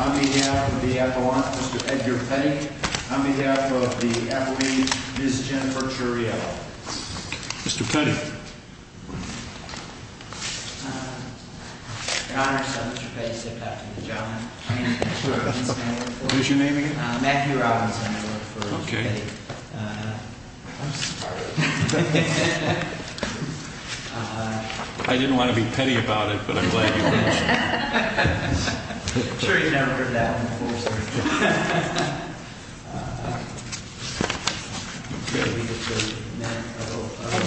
On behalf of the Appalachians, Ms. Jennifer Turiello. Mr. Petty. I didn't want to be petty about it, but I'm glad you mentioned it. I'm sure you've never heard that one before, sir.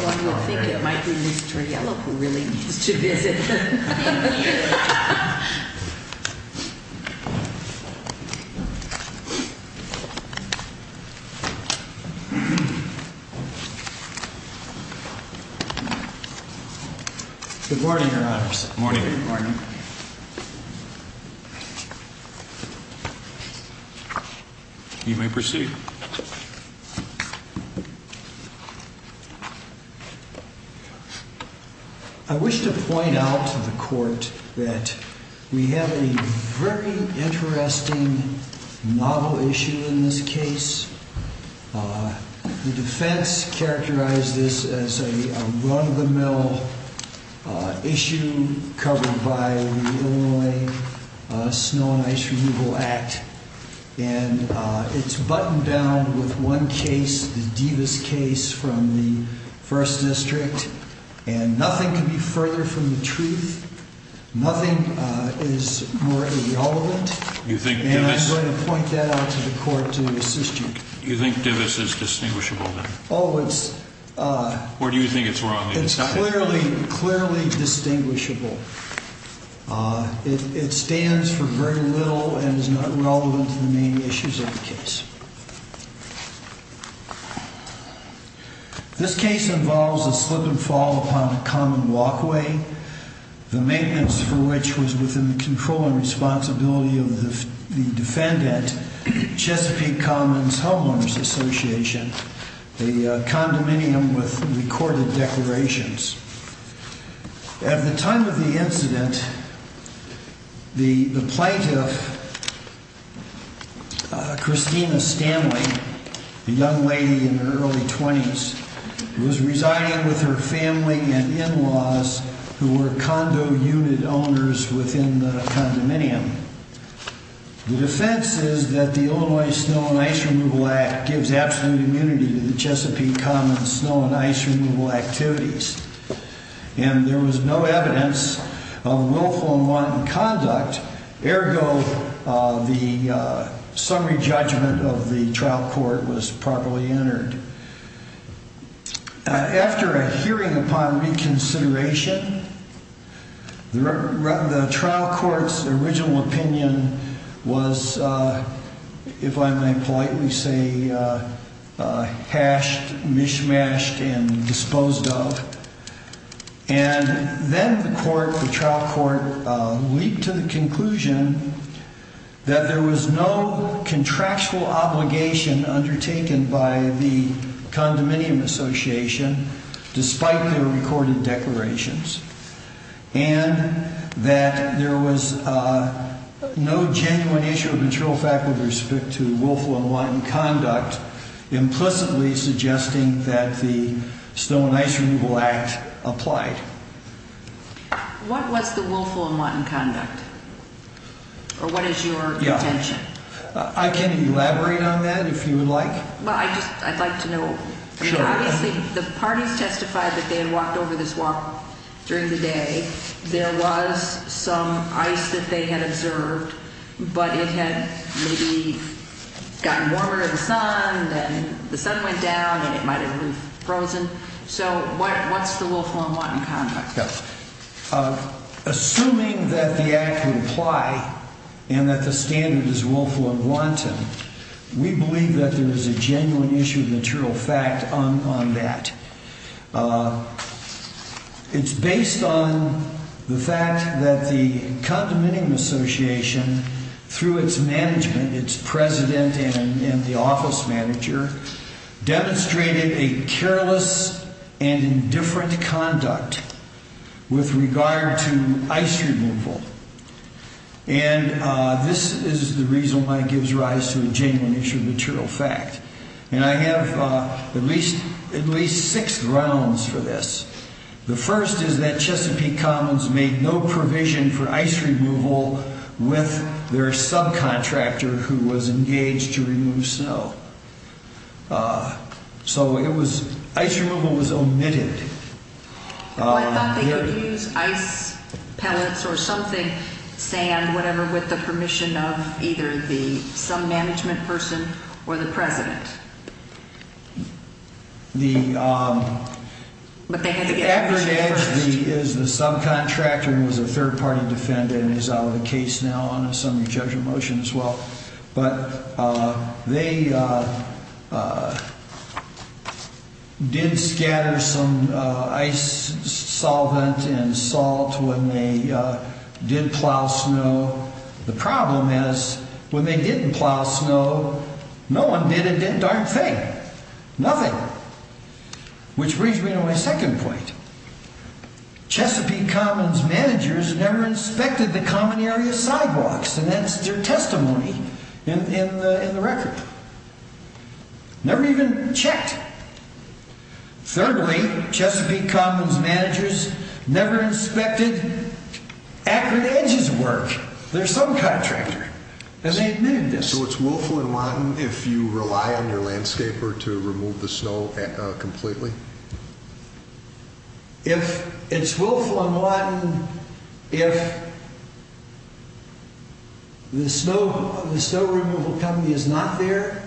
One would think it might be Ms. Turiello who really needs to visit. Good morning, Your Honors. Good morning. You may proceed. I wish to point out to the Court that we have a very interesting novel issue in this case. The defense characterized this as a run-of-the-mill issue covered by the Illinois Snow and Ice Renewal Act. And it's buttoned down with one case, the Devis case from the First District. And nothing could be further from the truth. Nothing is more irrelevant. And I'm going to point that out to the Court to assist you. You think Devis is distinguishable, then? Oh, it's... Or do you think it's wrong? It's clearly distinguishable. It stands for very little and is not relevant to the main issues of the case. This case involves a slip and fall upon a common walkway. The maintenance for which was within the control and responsibility of the defendant, Chesapeake Commons Homeowners Association, a condominium with recorded declarations. At the time of the incident, the plaintiff, Christina Stanley, a young lady in her early 20s, was residing with her family and in-laws who were condo unit owners within the condominium. The defense is that the Illinois Snow and Ice Removal Act gives absolute immunity to the Chesapeake Commons snow and ice removal activities. And there was no evidence of willful and wanton conduct. Ergo, the summary judgment of the trial court was properly entered. After a hearing upon reconsideration, the trial court's original opinion was, if I may politely say, hashed, mishmashed, and disposed of. And then the court, the trial court, leaped to the conclusion that there was no contractual obligation undertaken by the condominium association, despite their recorded declarations, and that there was no genuine issue of material fact with respect to willful and wanton conduct, implicitly suggesting that the Snow and Ice Removal Act applied. What was the willful and wanton conduct? Or what is your intention? I can elaborate on that, if you would like. Well, I'd like to know. Obviously, the parties testified that they had walked over the swamp during the day. There was some ice that they had observed, but it had maybe gotten warmer in the sun, and the sun went down, and it might have been frozen. So what's the willful and wanton conduct? Assuming that the act would apply and that the standard is willful and wanton, we believe that there is a genuine issue of material fact on that. It's based on the fact that the condominium association, through its management, and its president and the office manager, demonstrated a careless and indifferent conduct with regard to ice removal. And this is the reason why it gives rise to a genuine issue of material fact. And I have at least six grounds for this. The first is that Chesapeake Commons made no provision for ice removal with their subcontractor who was engaged to remove snow. So ice removal was omitted. I thought they could use ice pellets or something, sand, whatever, with the permission of either some management person or the president. The aggregate is the subcontractor who was a third-party defendant and is out of the case now on a summary judgment motion as well. But they did scatter some ice solvent and salt when they did plow snow. So the problem is, when they didn't plow snow, no one did a damn thing. Nothing. Which brings me to my second point. Chesapeake Commons managers never inspected the common area sidewalks, and that's their testimony in the record. Never even checked. Thirdly, Chesapeake Commons managers never inspected Akron Edge's work. Their subcontractor. And they admitted this. So it's willful and wanton if you rely on your landscaper to remove the snow completely? It's willful and wanton if the snow removal company is not there,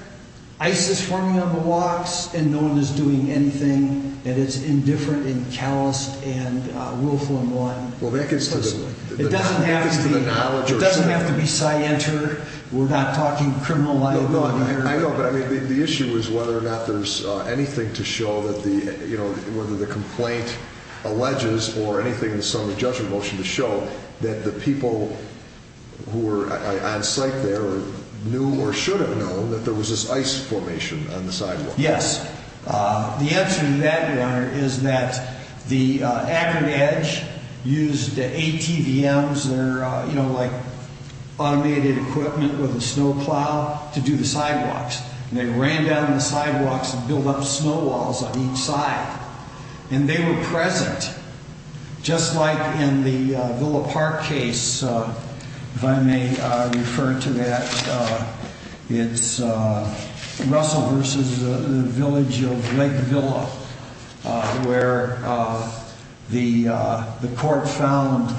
ice is forming on the walks, and no one is doing anything, and it's indifferent and calloused and willful and wanton. It doesn't have to be scienter. We're not talking criminal law here. I know, but the issue is whether or not there's anything to show that the complaint alleges or anything in the summary judgment motion to show that the people who were on site there knew or should have known that there was this ice formation on the sidewalk. Yes. The answer to that, Warner, is that the Akron Edge used ATVMs, they're like automated equipment with a snow plow, to do the sidewalks. And they ran down the sidewalks and built up snow walls on each side. And they were present. Just like in the Villa Park case, if I may refer to that, it's Russell versus the village of Lake Villa, where the court found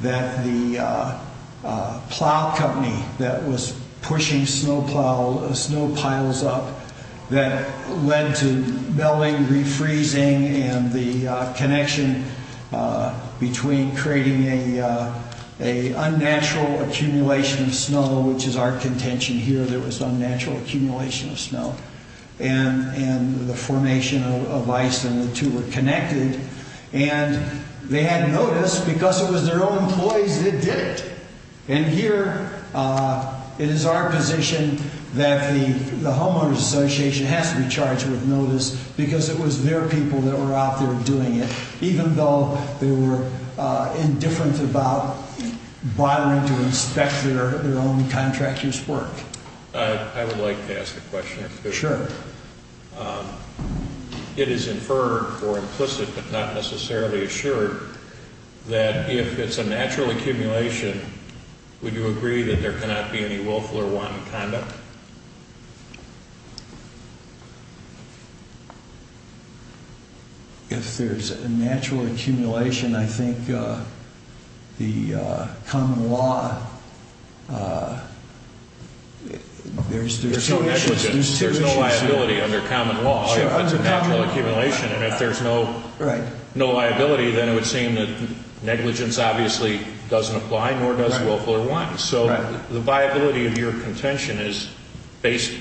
that the plow company that was pushing snow piles up that led to melting, refreezing, and the connection between creating an unnatural accumulation of snow, which is our contention here, there was unnatural accumulation of snow, and the formation of ice, and the two were connected. And they had notice, because it was their own employees that did it. And here, it is our position that the homeowners association has to be charged with notice because it was their people that were out there doing it, even though they were indifferent about bothering to inspect their own contractor's work. I would like to ask a question. Sure. It is inferred, or implicit, but not necessarily assured, that if it's a natural accumulation, would you agree that there cannot be any willful or wanton conduct? If there's a natural accumulation, I think the common law, there's two issues. There's no liability under common law if it's a natural accumulation. And if there's no liability, then it would seem that negligence obviously doesn't apply, nor does willful or wanton. So the viability of your contention is based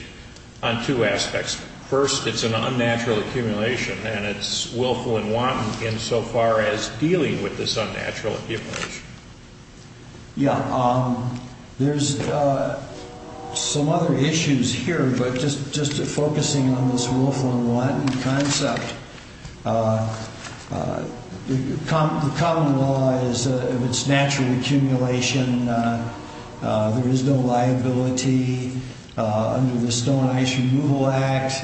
on two aspects. First, it's an unnatural accumulation, and it's willful and wanton insofar as dealing with this unnatural accumulation. Yeah, there's some other issues here. But just focusing on this willful and wanton concept, the common law is if it's natural accumulation, there is no liability. Under the Stone Ice Removal Act,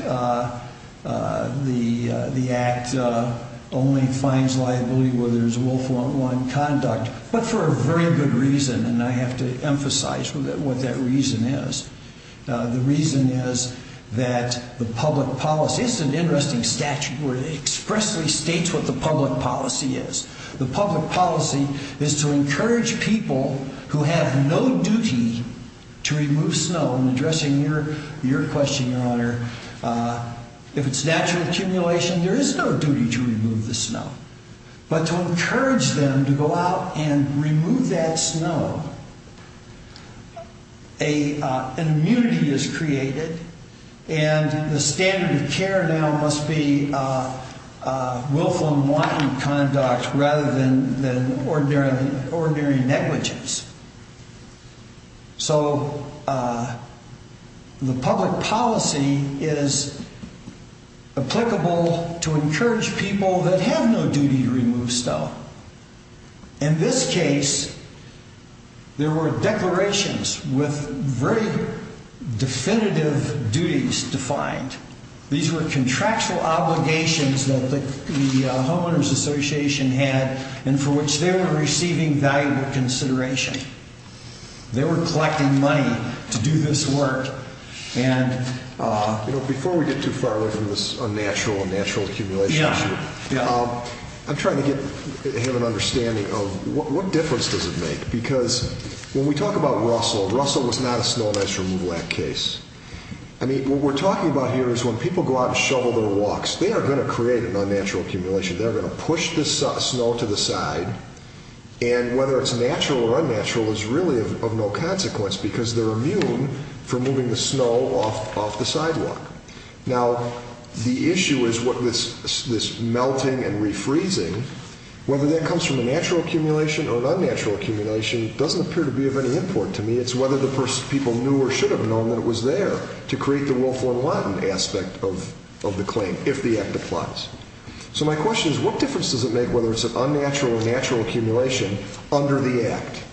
the Act only finds liability where there's willful and wanton conduct, but for a very good reason, and I have to emphasize what that reason is. The reason is that the public policy, it's an interesting statute where it expressly states what the public policy is. The public policy is to encourage people who have no duty to remove snow. I'm addressing your question, Your Honor. If it's natural accumulation, there is no duty to remove the snow. But to encourage them to go out and remove that snow, an immunity is created, and the standard of care now must be willful and wanton conduct rather than ordinary negligence. So the public policy is applicable to encourage people that have no duty to remove snow. In this case, there were declarations with very definitive duties defined. These were contractual obligations that the Homeowners Association had and for which they were receiving valuable consideration. They were collecting money to do this work. Before we get too far away from this unnatural accumulation issue, I'm trying to have an understanding of what difference does it make? Because when we talk about Russell, Russell was not a Snow Ice Removal Act case. What we're talking about here is when people go out and shovel their walks, they are going to create an unnatural accumulation. They're going to push the snow to the side, and whether it's natural or unnatural is really of no consequence because they're immune from moving the snow off the sidewalk. Now, the issue is this melting and refreezing. Whether that comes from a natural accumulation or an unnatural accumulation doesn't appear to be of any import to me. It's whether the people knew or should have known that it was there to create the willful and wanton aspect of the claim, if the Act applies. So my question is, what difference does it make whether it's an unnatural or natural accumulation under the Act?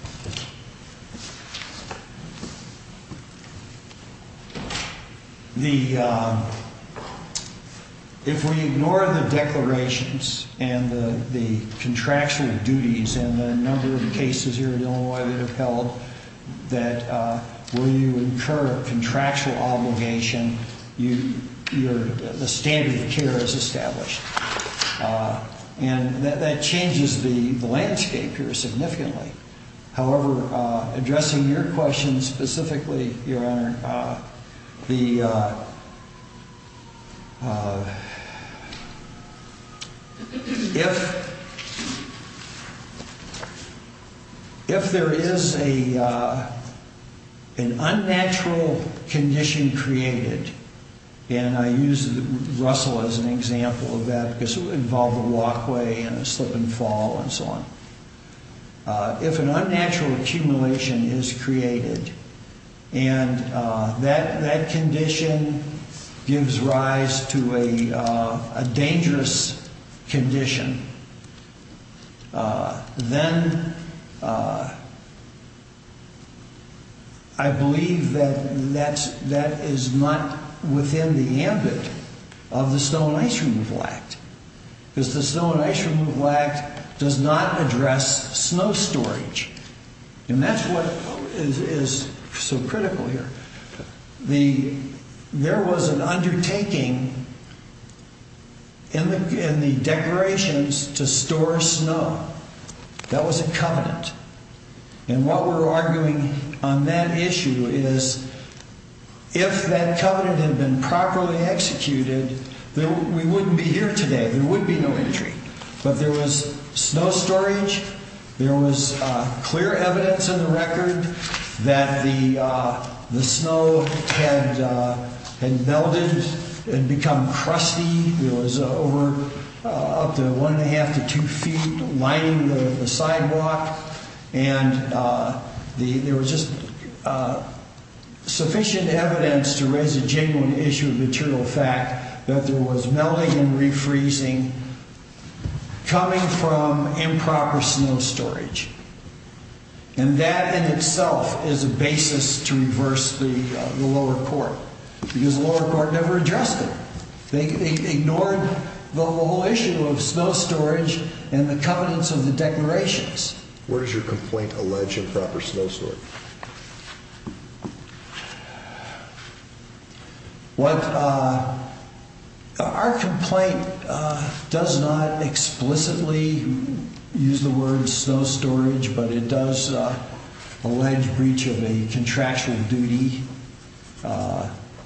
If we ignore the declarations and the contractual duties and the number of cases here in Illinois that have held, that when you incur a contractual obligation, the standard of care is established. And that changes the landscape here significantly. However, addressing your question specifically, Your Honor, if there is an unnatural condition created, and I use Russell as an example of that because it would involve a walkway and a slip and fall and so on. If an unnatural accumulation is created and that condition gives rise to a dangerous condition, then I believe that that is not within the ambit of the Snow and Ice Removal Act. Because the Snow and Ice Removal Act does not address snow storage. And that's what is so critical here. There was an undertaking in the declarations to store snow. That was a covenant. And what we're arguing on that issue is, if that covenant had been properly executed, we wouldn't be here today. There would be no injury. But there was snow storage. There was clear evidence in the record that the snow had melted and become crusty. There was over up to one and a half to two feet lining the sidewalk. And there was just sufficient evidence to raise a genuine issue of material fact that there was melting and refreezing coming from improper snow storage. And that in itself is a basis to reverse the lower court. Because the lower court never addressed it. They ignored the whole issue of snow storage and the covenants of the declarations. Where does your complaint allege improper snow storage? Our complaint does not explicitly use the word snow storage, but it does allege breach of a contractual duty.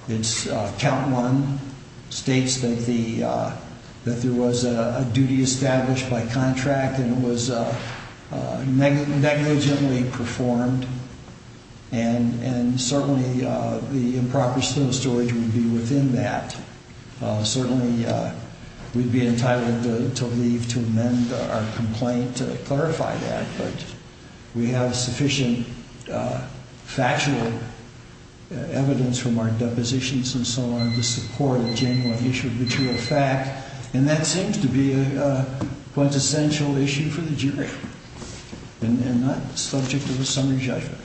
It's count one states that there was a duty established by contract and it was negligently performed. And certainly the improper snow storage would be within that. Certainly we'd be entitled to leave to amend our complaint to clarify that. But we have sufficient factual evidence from our depositions and so on to support a genuine issue of material fact. And that seems to be a quintessential issue for the jury and not subject to a summary judgment.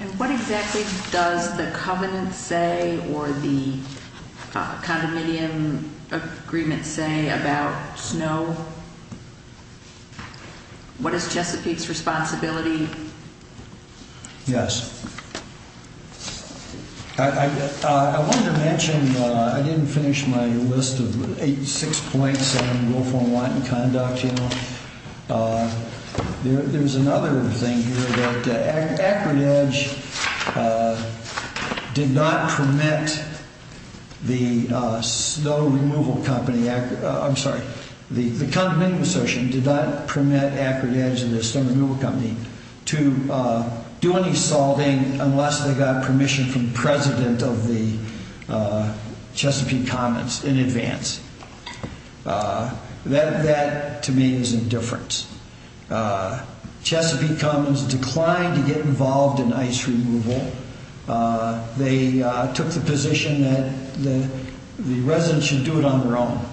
And what exactly does the covenant say or the condominium agreement say about snow? What is Chesapeake's responsibility? Yes. I wanted to mention, I didn't finish my list of 86 points on willful and wanton conduct. There's another thing here that Acrid Edge did not permit the snow removal company. I'm sorry. The condominium association did not permit Acrid Edge and the snow removal company to do any salting unless they got permission from the president of the Chesapeake Commons in advance. That to me is indifference. Chesapeake Commons declined to get involved in ice removal. They took the position that the residents should do it on their own.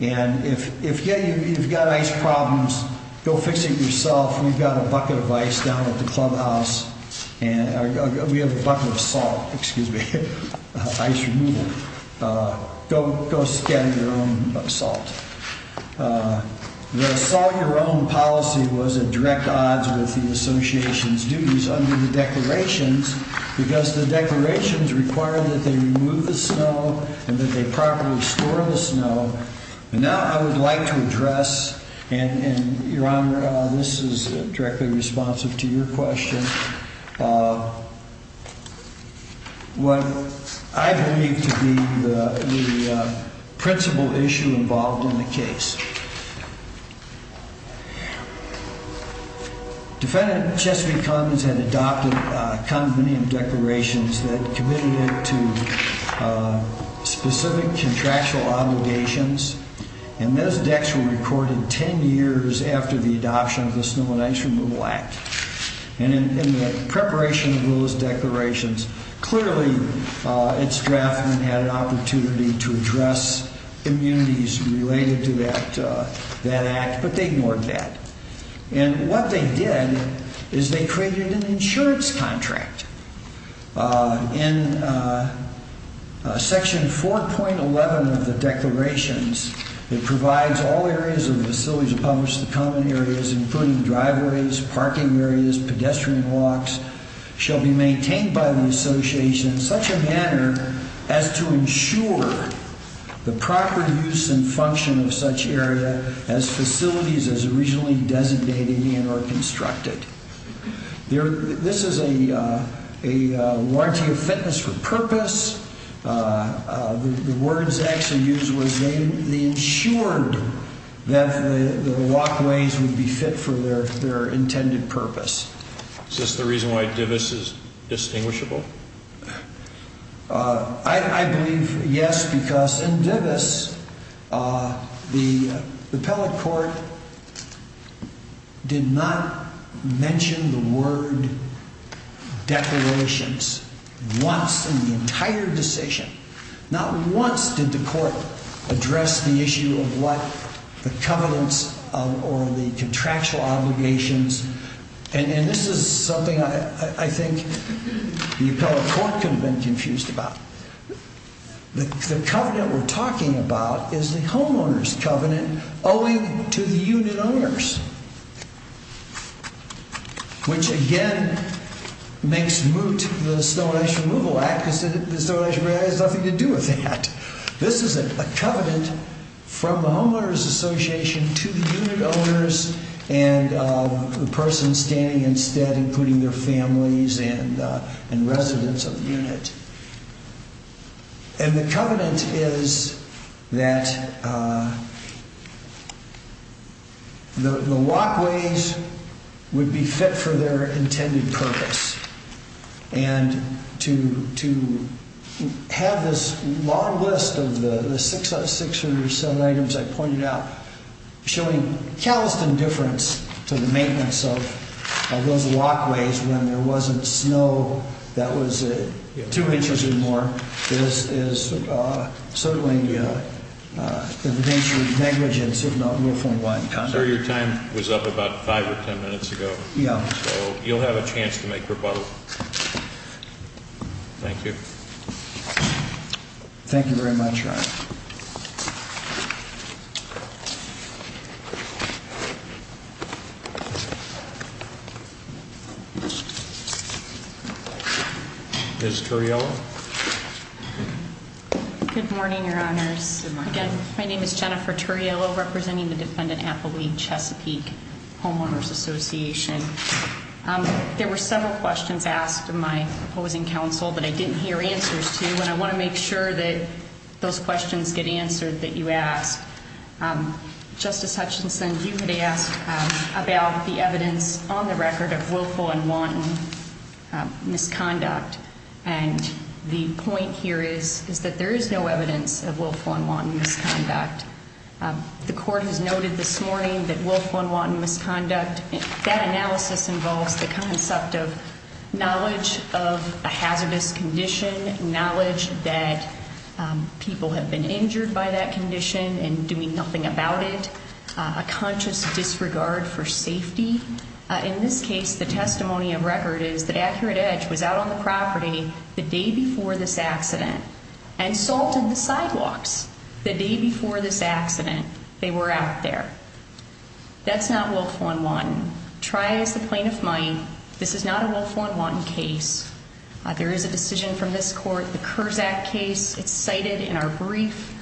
And if you've got ice problems, go fix it yourself. We've got a bucket of ice down at the clubhouse. We have a bucket of salt, excuse me, ice removal. Go scan your own salt. The salt your own policy was a direct odds with the association's duties under the declarations because the declarations require that they remove the snow and that they properly store the snow. And now I would like to address and your honor, this is directly responsive to your question. What I believe to be the principal issue involved in the case. Defendant Chesapeake Commons had adopted condominium declarations that committed it to specific contractual obligations. And those decks were recorded 10 years after the adoption of the Snow and Ice Removal Act. And in preparation of those declarations, clearly it's drafted and had an opportunity to address immunities related to that act, but they ignored that. And what they did is they created an insurance contract. In section 4.11 of the declarations, it provides all areas of the facility to publish the common areas, including driveways, parking areas, pedestrian walks, shall be maintained by the association in such a manner as to ensure the proper use and function of such area as facilities as originally designated and or constructed. This is a warranty of fitness for purpose. The words actually used was they ensured that the walkways would be fit for their intended purpose. Is this the reason why Divis is distinguishable? I believe yes, because in Divis, the appellate court did not mention the word declarations once in the entire decision. Not once did the court address the issue of what the covenants or the contractual obligations. And this is something I think the appellate court could have been confused about. The covenant we're talking about is the homeowners covenant owing to the unit owners. Which again makes moot the Snow and Ice Removal Act because the Snow and Ice Removal Act has nothing to do with that. This is a covenant from the homeowners association to the unit owners and the person standing instead including their families and residents of the unit. And the covenant is that the walkways would be fit for their intended purpose. And to have this long list of the six or seven items I pointed out, showing calisthenic difference to the maintenance of those walkways when there wasn't snow that was two inches or more, is certainly the nature of negligence if not real form of lying conduct. I'm sure your time was up about five or ten minutes ago. Yeah. So you'll have a chance to make rebuttal. Thank you. Thank you very much. Ms. Turriello. Good morning, your honors. Good morning. My name is Jennifer Turriello representing the Defendant Appellee Chesapeake Homeowners Association. There were several questions asked of my opposing counsel that I didn't hear answers to, and I want to make sure that those questions get answered that you ask. Justice Hutchinson, you had asked about the evidence on the record of willful and wanton misconduct. And the point here is that there is no evidence of willful and wanton misconduct. The court has noted this morning that willful and wanton misconduct, that analysis involves the concept of knowledge of a hazardous condition, knowledge that people have been injured by that condition and doing nothing about it, a conscious disregard for safety. In this case, the testimony of record is that Accurate Edge was out on the property the day before this accident and salted the sidewalks the day before this accident they were out there. That's not willful and wanton. Try as the plaintiff might, this is not a willful and wanton case. There is a decision from this court, the Kurzak case, it's cited in our brief,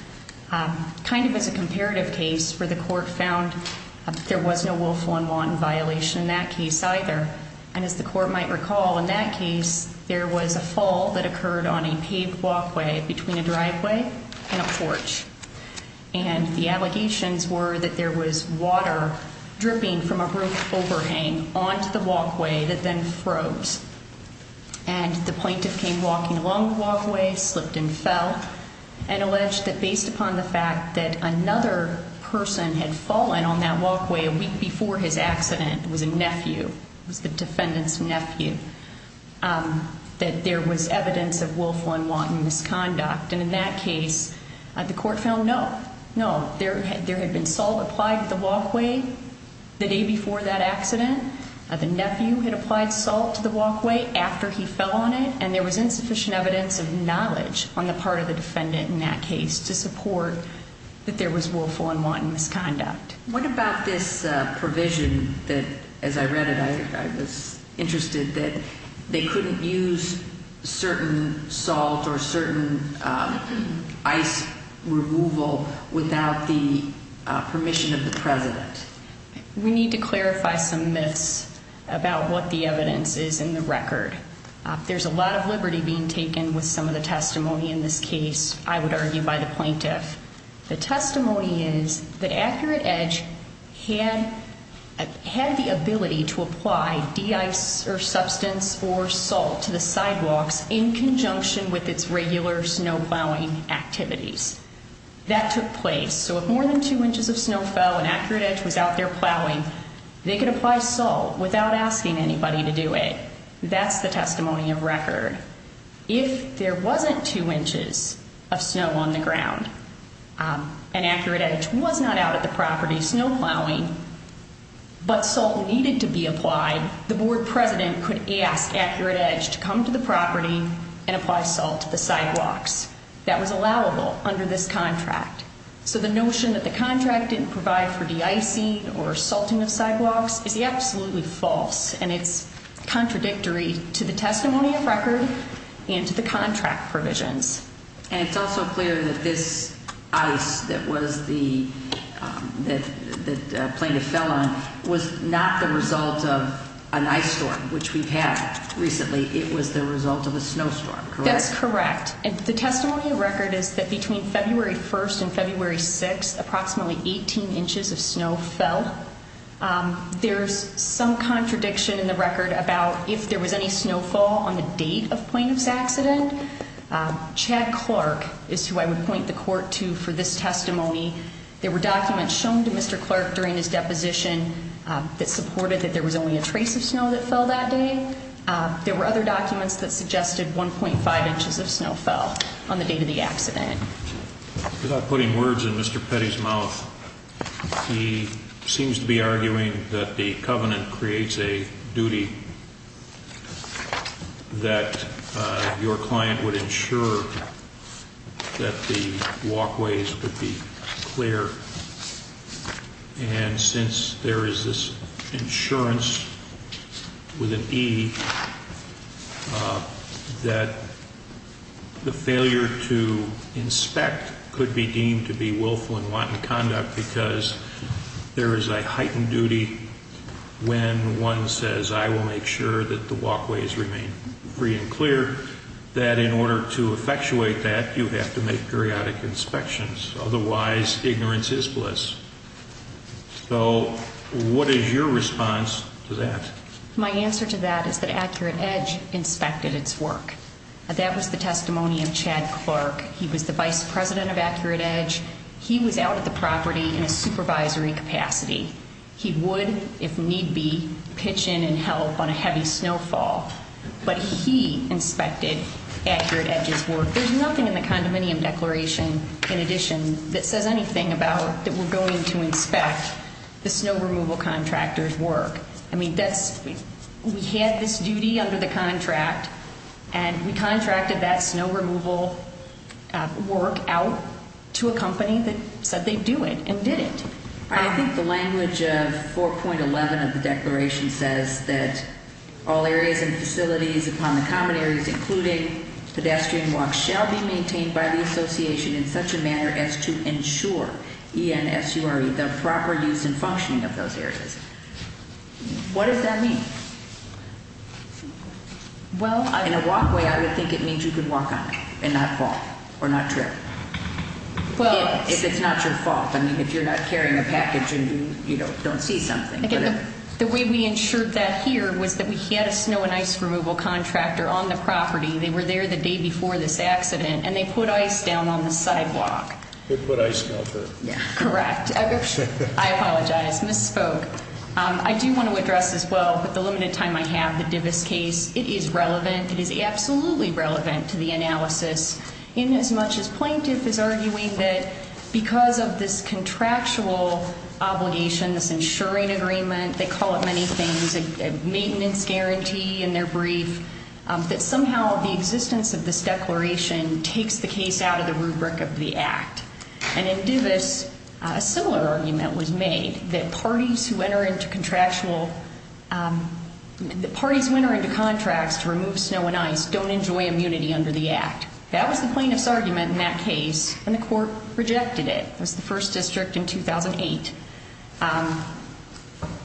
kind of as a comparative case where the court found there was no willful and wanton violation in that case either. And as the court might recall, in that case, there was a fall that occurred on a paved walkway between a driveway and a porch. And the allegations were that there was water dripping from a roof overhang onto the walkway that then froze. And the plaintiff came walking along the walkway, slipped and fell, and alleged that based upon the fact that another person had fallen on that walkway a week before his accident, it was a nephew, it was the defendant's nephew, that there was evidence of willful and wanton misconduct. And in that case, the court found no, no. There had been salt applied to the walkway the day before that accident. The nephew had applied salt to the walkway after he fell on it, and there was insufficient evidence of knowledge on the part of the defendant in that case to support that there was willful and wanton misconduct. What about this provision that, as I read it, I was interested, that they couldn't use certain salt or certain ice removal without the permission of the president? We need to clarify some myths about what the evidence is in the record. There's a lot of liberty being taken with some of the testimony in this case, I would argue, by the plaintiff. The testimony is that Accurate Edge had the ability to apply de-ice or substance or salt to the sidewalks in conjunction with its regular snow plowing activities. That took place, so if more than two inches of snow fell and Accurate Edge was out there plowing, they could apply salt without asking anybody to do it. That's the testimony of record. If there wasn't two inches of snow on the ground and Accurate Edge was not out at the property snow plowing, but salt needed to be applied, the board president could ask Accurate Edge to come to the property and apply salt to the sidewalks. That was allowable under this contract. So the notion that the contract didn't provide for de-icing or salting of sidewalks is absolutely false, and it's contradictory to the testimony of record and to the contract provisions. And it's also clear that this ice that the plaintiff fell on was not the result of an ice storm, which we've had recently. It was the result of a snowstorm, correct? That's correct. The testimony of record is that between February 1st and February 6th, approximately 18 inches of snow fell. There's some contradiction in the record about if there was any snowfall on the date of the plaintiff's accident. Chad Clark is who I would point the court to for this testimony. There were documents shown to Mr. Clark during his deposition that supported that there was only a trace of snow that fell that day. There were other documents that suggested 1.5 inches of snow fell on the date of the accident. Without putting words in Mr. Petty's mouth, he seems to be arguing that the covenant creates a duty that your client would ensure that the walkways would be clear. And since there is this insurance with an E, that the failure to inspect could be deemed to be willful and wanton conduct because there is a heightened duty when one says, I will make sure that the walkways remain free and clear, that in order to effectuate that, you have to make periodic inspections. Otherwise, ignorance is bliss. So what is your response to that? My answer to that is that Accurate Edge inspected its work. That was the testimony of Chad Clark. He was the vice president of Accurate Edge. He was out at the property in a supervisory capacity. He would, if need be, pitch in and help on a heavy snowfall. But he inspected Accurate Edge's work. There's nothing in the condominium declaration, in addition, that says anything about that we're going to inspect the snow removal contractor's work. I mean, we had this duty under the contract, and we contracted that snow removal work out to a company that said they'd do it and did it. I think the language of 4.11 of the declaration says that all areas and facilities upon the common areas, including pedestrian walks, shall be maintained by the association in such a manner as to ensure ENSURE, the proper use and functioning of those areas. What does that mean? In a walkway, I would think it means you could walk on it and not fall or not trip. If it's not your fault. I mean, if you're not carrying a package and you don't see something. The way we ensured that here was that we had a snow and ice removal contractor on the property. They were there the day before this accident, and they put ice down on the sidewalk. They put ice melters. Correct. I apologize, misspoke. I do want to address, as well, with the limited time I have, the Divis case. It is relevant. It is absolutely relevant to the analysis in as much as plaintiff is arguing that because of this contractual obligation, this ensuring agreement, they call it many things, maintenance guarantee in their brief, that somehow the existence of this declaration takes the case out of the rubric of the act. And in Divis, a similar argument was made that parties who enter into contracts to remove snow and ice don't enjoy immunity under the act. That was the plaintiff's argument in that case, and the court rejected it. It was the first district in 2008.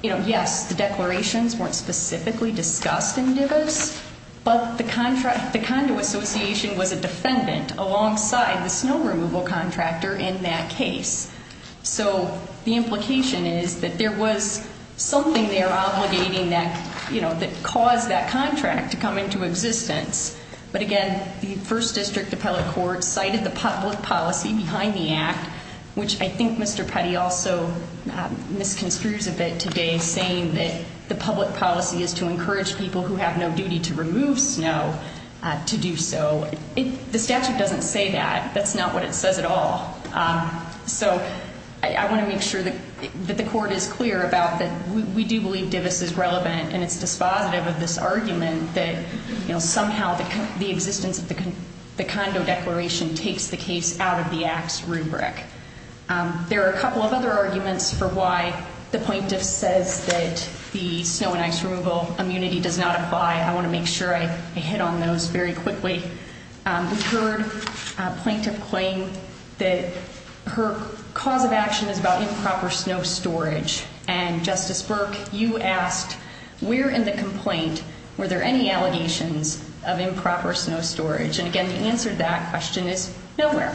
You know, yes, the declarations weren't specifically discussed in Divis, but the Condo Association was a defendant alongside the snow removal contractor in that case. So the implication is that there was something there obligating that, you know, that caused that contract to come into existence. But, again, the first district appellate court cited the public policy behind the act, which I think Mr. Petty also misconstrues a bit today, saying that the public policy is to encourage people who have no duty to remove snow to do so. The statute doesn't say that. That's not what it says at all. So I want to make sure that the court is clear about that. We do believe Divis is relevant, and it's dispositive of this argument that, you know, somehow the existence of the condo declaration takes the case out of the act's rubric. There are a couple of other arguments for why the plaintiff says that the snow and ice removal immunity does not apply. I want to make sure I hit on those very quickly. We heard a plaintiff claim that her cause of action is about improper snow storage. And, Justice Burke, you asked, where in the complaint were there any allegations of improper snow storage? And, again, the answer to that question is nowhere.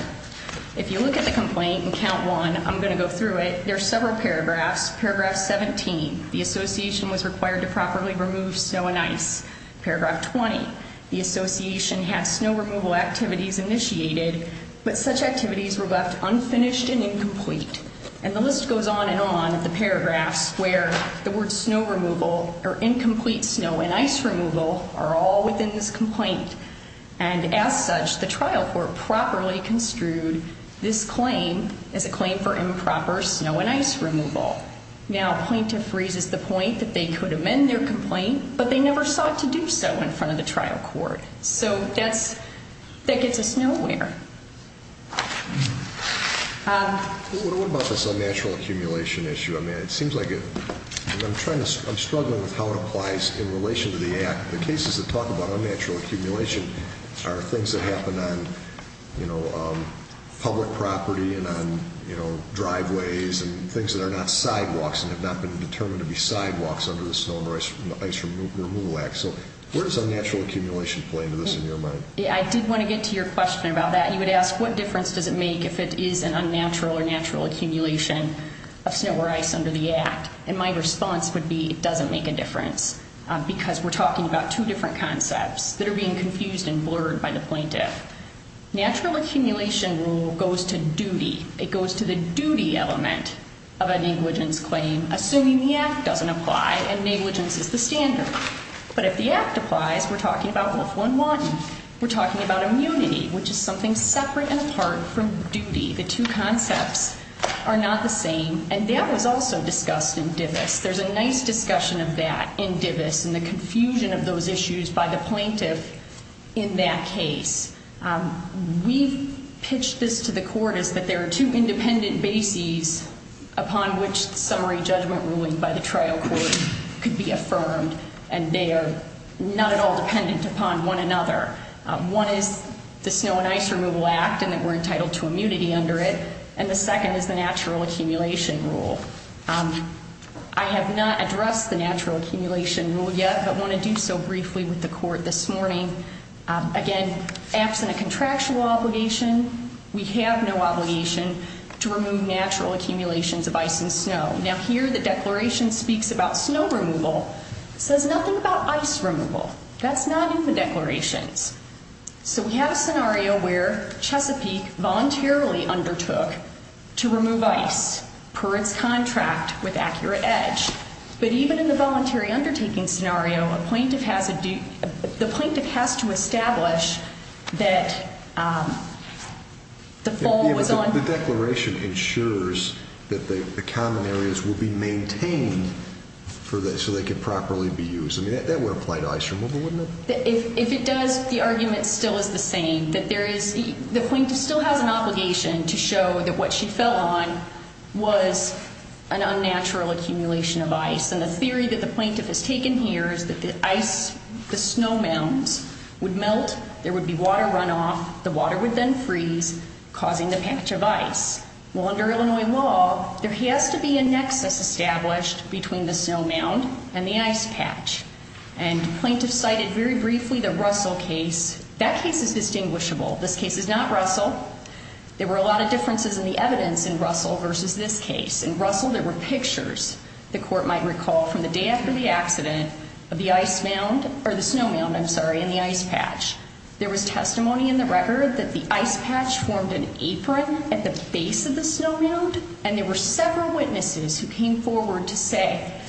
If you look at the complaint in Count 1, I'm going to go through it. There are several paragraphs. Paragraph 17, the association was required to properly remove snow and ice. Paragraph 20, the association had snow removal activities initiated, but such activities were left unfinished and incomplete. And the list goes on and on of the paragraphs where the words snow removal or incomplete snow and ice removal are all within this complaint. And, as such, the trial court properly construed this claim as a claim for improper snow and ice removal. Now, a plaintiff raises the point that they could amend their complaint, but they never sought to do so in front of the trial court. So that gets us nowhere. What about this unnatural accumulation issue? I mean, it seems like I'm struggling with how it applies in relation to the act. The cases that talk about unnatural accumulation are things that happen on public property and on driveways and things that are not sidewalks and have not been determined to be sidewalks under the Snow and Ice Removal Act. So where does unnatural accumulation play into this in your mind? I did want to get to your question about that. You would ask, what difference does it make if it is an unnatural or natural accumulation of snow or ice under the act? And my response would be it doesn't make a difference because we're talking about two different concepts that are being confused and blurred by the plaintiff. Natural accumulation rule goes to duty. It goes to the duty element of a negligence claim, assuming the act doesn't apply and negligence is the standard. But if the act applies, we're talking about Wolf 1-1. We're talking about immunity, which is something separate and apart from duty. The two concepts are not the same, and that was also discussed in Divis. There's a nice discussion of that in Divis and the confusion of those issues by the plaintiff in that case. We've pitched this to the court as that there are two independent bases upon which summary judgment ruling by the trial court could be affirmed, and they are not at all dependent upon one another. One is the Snow and Ice Removal Act and that we're entitled to immunity under it, and the second is the natural accumulation rule. I have not addressed the natural accumulation rule yet, but want to do so briefly with the court this morning. Again, absent a contractual obligation, we have no obligation to remove natural accumulations of ice and snow. Now, here the declaration speaks about snow removal. It says nothing about ice removal. That's not in the declarations. So we have a scenario where Chesapeake voluntarily undertook to remove ice per its contract with accurate edge. But even in the voluntary undertaking scenario, the plaintiff has to establish that the fall was on... The declaration ensures that the common areas will be maintained so they can properly be used. I mean, that would apply to ice removal, wouldn't it? If it does, the argument still is the same, that there is... The plaintiff still has an obligation to show that what she fell on was an unnatural accumulation of ice, and the theory that the plaintiff has taken here is that the ice, the snow mounds, would melt, there would be water runoff, the water would then freeze, causing the patch of ice. Well, under Illinois law, there has to be a nexus established between the snow mound and the ice patch. And the plaintiff cited very briefly the Russell case. That case is distinguishable. This case is not Russell. There were a lot of differences in the evidence in Russell versus this case. In Russell, there were pictures the court might recall from the day after the accident of the ice mound... Or the snow mound, I'm sorry, and the ice patch. There was testimony in the record that the ice patch formed an apron at the base of the snow mound, and there were several witnesses who came forward to say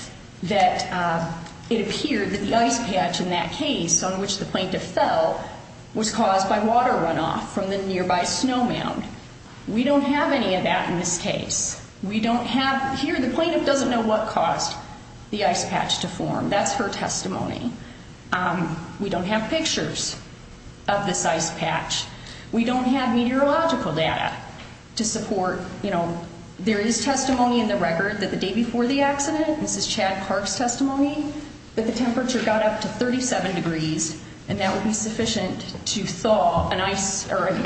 that it appeared that the ice patch in that case, on which the plaintiff fell, was caused by water runoff from the nearby snow mound. We don't have any of that in this case. We don't have... Here, the plaintiff doesn't know what caused the ice patch to form. That's her testimony. We don't have pictures of this ice patch. We don't have meteorological data to support... There is testimony in the record that the day before the accident, this is Chad Clark's testimony, that the temperature got up to 37 degrees, and that would be sufficient to thaw a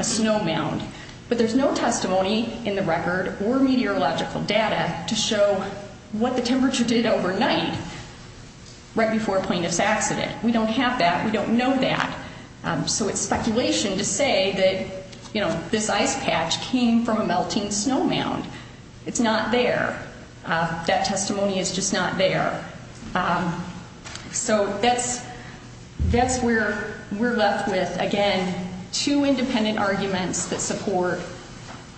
snow mound. But there's no testimony in the record or meteorological data to show what the temperature did overnight right before a plaintiff's accident. We don't have that. We don't know that. So it's speculation to say that this ice patch came from a melting snow mound. It's not there. That testimony is just not there. So that's where we're left with, again, two independent arguments that support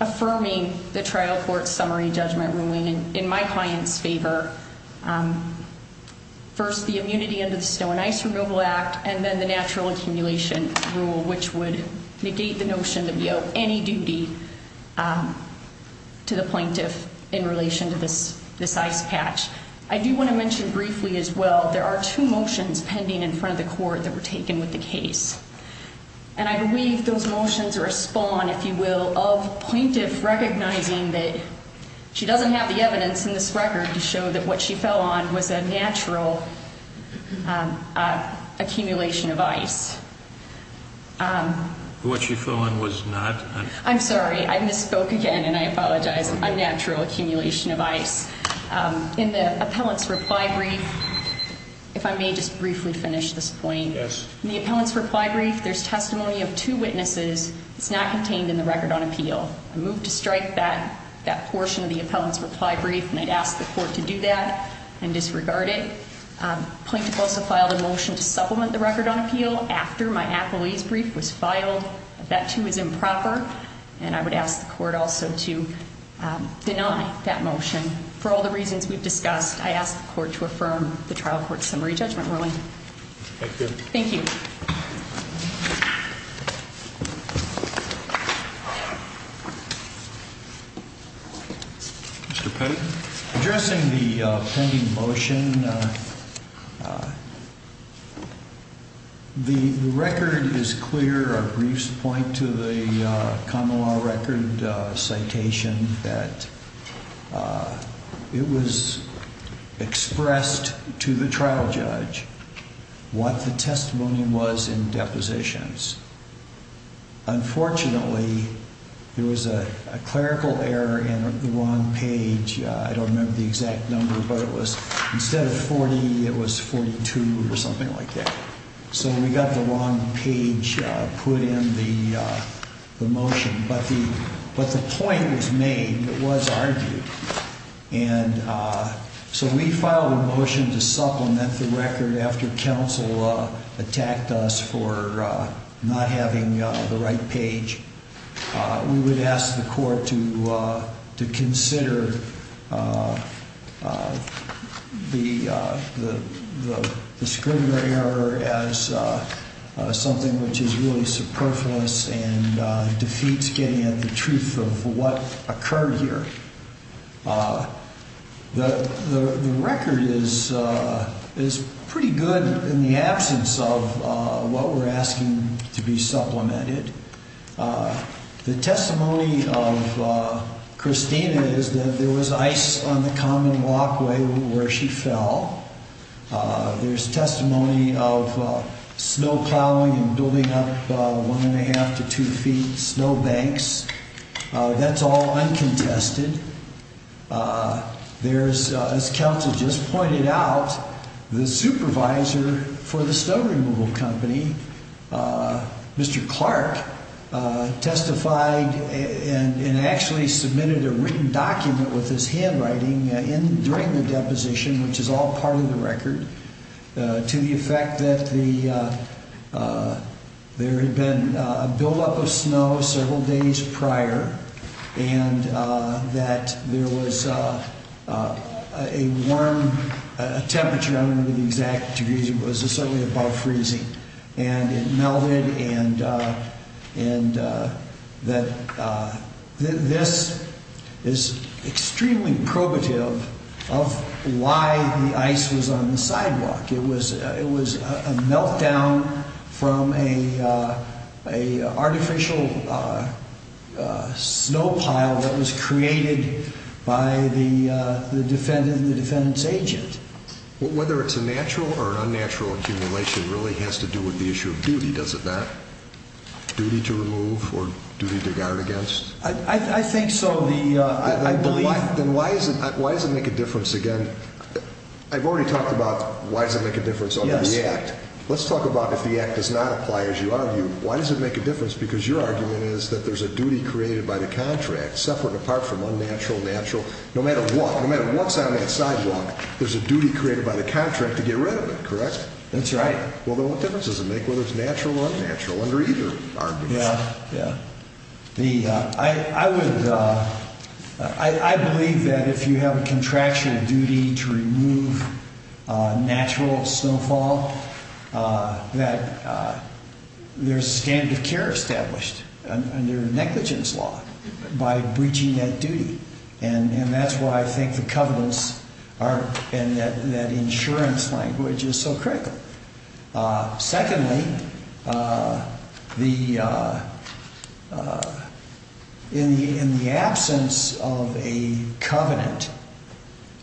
affirming the trial court summary judgment ruling in my client's favor. First, the immunity under the Snow and Ice Removal Act, and then the natural accumulation rule, which would negate the notion that we owe any duty to the plaintiff in relation to this ice patch. I do want to mention briefly as well, there are two motions pending in front of the court that were taken with the case. And I believe those motions are a spawn, if you will, of plaintiff recognizing that she doesn't have the evidence in this record to show that what she fell on was a natural accumulation of ice. What she fell on was not? I'm sorry. I misspoke again, and I apologize. A natural accumulation of ice. In the appellant's reply brief, if I may just briefly finish this point. Yes. In the appellant's reply brief, there's testimony of two witnesses. It's not contained in the record on appeal. I move to strike that portion of the appellant's reply brief, and I'd ask the court to do that and disregard it. The plaintiff also filed a motion to supplement the record on appeal after my appealee's brief was filed. That, too, is improper, and I would ask the court also to deny that motion. For all the reasons we've discussed, I ask the court to affirm the trial court summary judgment ruling. Thank you. Thank you. Mr. Petty. Unfortunately, there was a clerical error in the wrong page. I don't remember the exact number, but it was instead of 40, it was 42 or something like that. So we got the wrong page put in the motion, but the point was made. It was argued. And so we filed a motion to supplement the record after counsel attacked us for not having the right page. We would ask the court to consider the discriminatory error as something which is really superfluous and defeats getting at the truth of what occurred here. The record is pretty good in the absence of what we're asking to be supplemented. The testimony of Christina is that there was ice on the common walkway where she fell. There's testimony of snow plowing and building up one and a half to two feet snow banks. That's all uncontested. There's, as counsel just pointed out, the supervisor for the snow removal company, Mr. Clark, testified and actually submitted a written document with his handwriting during the deposition, which is all part of the record, to the effect that there had been a buildup of snow several days prior and that there was a warm temperature, I don't remember the exact degrees, but it was certainly above freezing. And it melted and that this is extremely probative of why the ice was on the sidewalk. It was a meltdown from an artificial snow pile that was created by the defendant and the defendant's agent. Whether it's a natural or unnatural accumulation really has to do with the issue of duty, does it not? Duty to remove or duty to guard against? I think so. Then why does it make a difference again? I've already talked about why does it make a difference under the Act. Let's talk about if the Act does not apply as you argue. Why does it make a difference? Because your argument is that there's a duty created by the contract, separate, apart from unnatural, natural. No matter what, no matter what's on that sidewalk, there's a duty created by the contract to get rid of it, correct? That's right. Well, then what difference does it make whether it's natural or unnatural under either argument? Yeah, yeah. I believe that if you have a contractual duty to remove natural snowfall, that there's a standard of care established under negligence law by breaching that duty. And that's why I think the covenants and that insurance language is so critical. Secondly, in the absence of a covenant,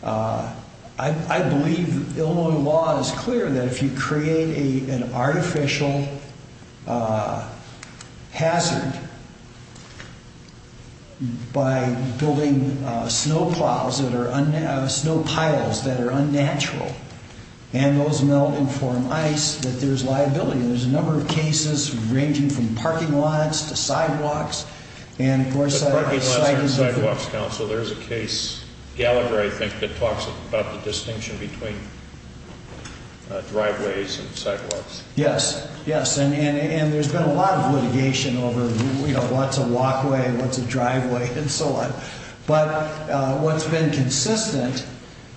I believe Illinois law is clear that if you create an artificial hazard by building snow piles that are unnatural and those melt and form ice, that there's liability. There's a number of cases ranging from parking lots to sidewalks. But parking lots aren't sidewalks, counsel. There's a case, Gallagher, I think, that talks about the distinction between driveways and sidewalks. Yes, yes. And there's been a lot of litigation over, you know, what's a walkway, what's a driveway, and so on. But what's been consistent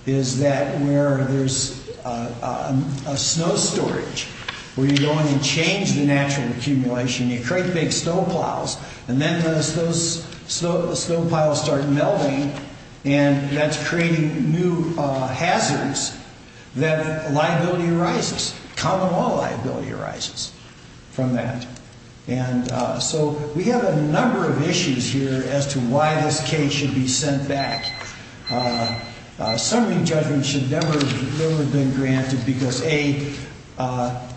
is that where there's a snow storage, where you go in and change the natural accumulation, you create big snow piles, and then as those snow piles start melting, and that's creating new hazards, that liability arises, common law liability arises from that. And so we have a number of issues here as to why this case should be sent back. Summary judgment should never have been granted because, A,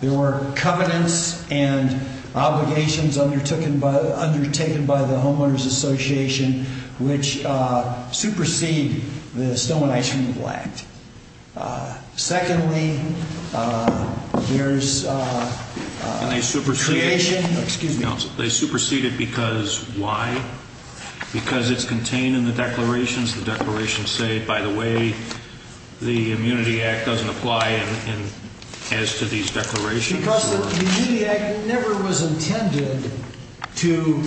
there were covenants and obligations undertaken by the Homeowners Association which supersede the Snow and Ice Removal Act. Secondly, there's a creation. Excuse me, counsel. They superseded because why? Because it's contained in the declarations. The declarations say, by the way, the Immunity Act doesn't apply as to these declarations. Because the Immunity Act never was intended to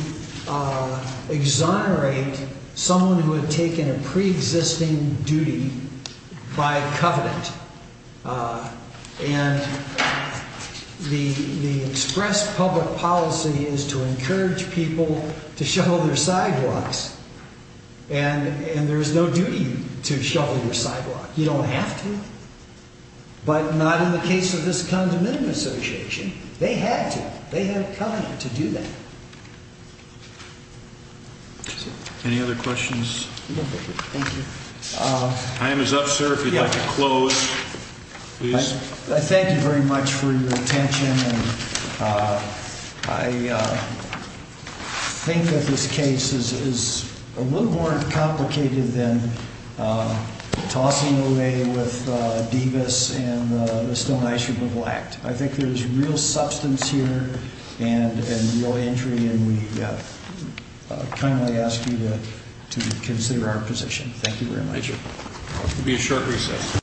exonerate someone who had taken a preexisting duty by covenant. And the express public policy is to encourage people to shovel their sidewalks. And there's no duty to shovel your sidewalk. You don't have to. But not in the case of this condominium association. They had to. They had a covenant to do that. Any other questions? Time is up, sir, if you'd like to close. I thank you very much for your attention. I think that this case is a little more complicated than tossing away with Davis and the Snow and Ice Removal Act. I think there's real substance here and real entry, and we kindly ask you to consider our position. Thank you very much. Thank you. There will be a short recess.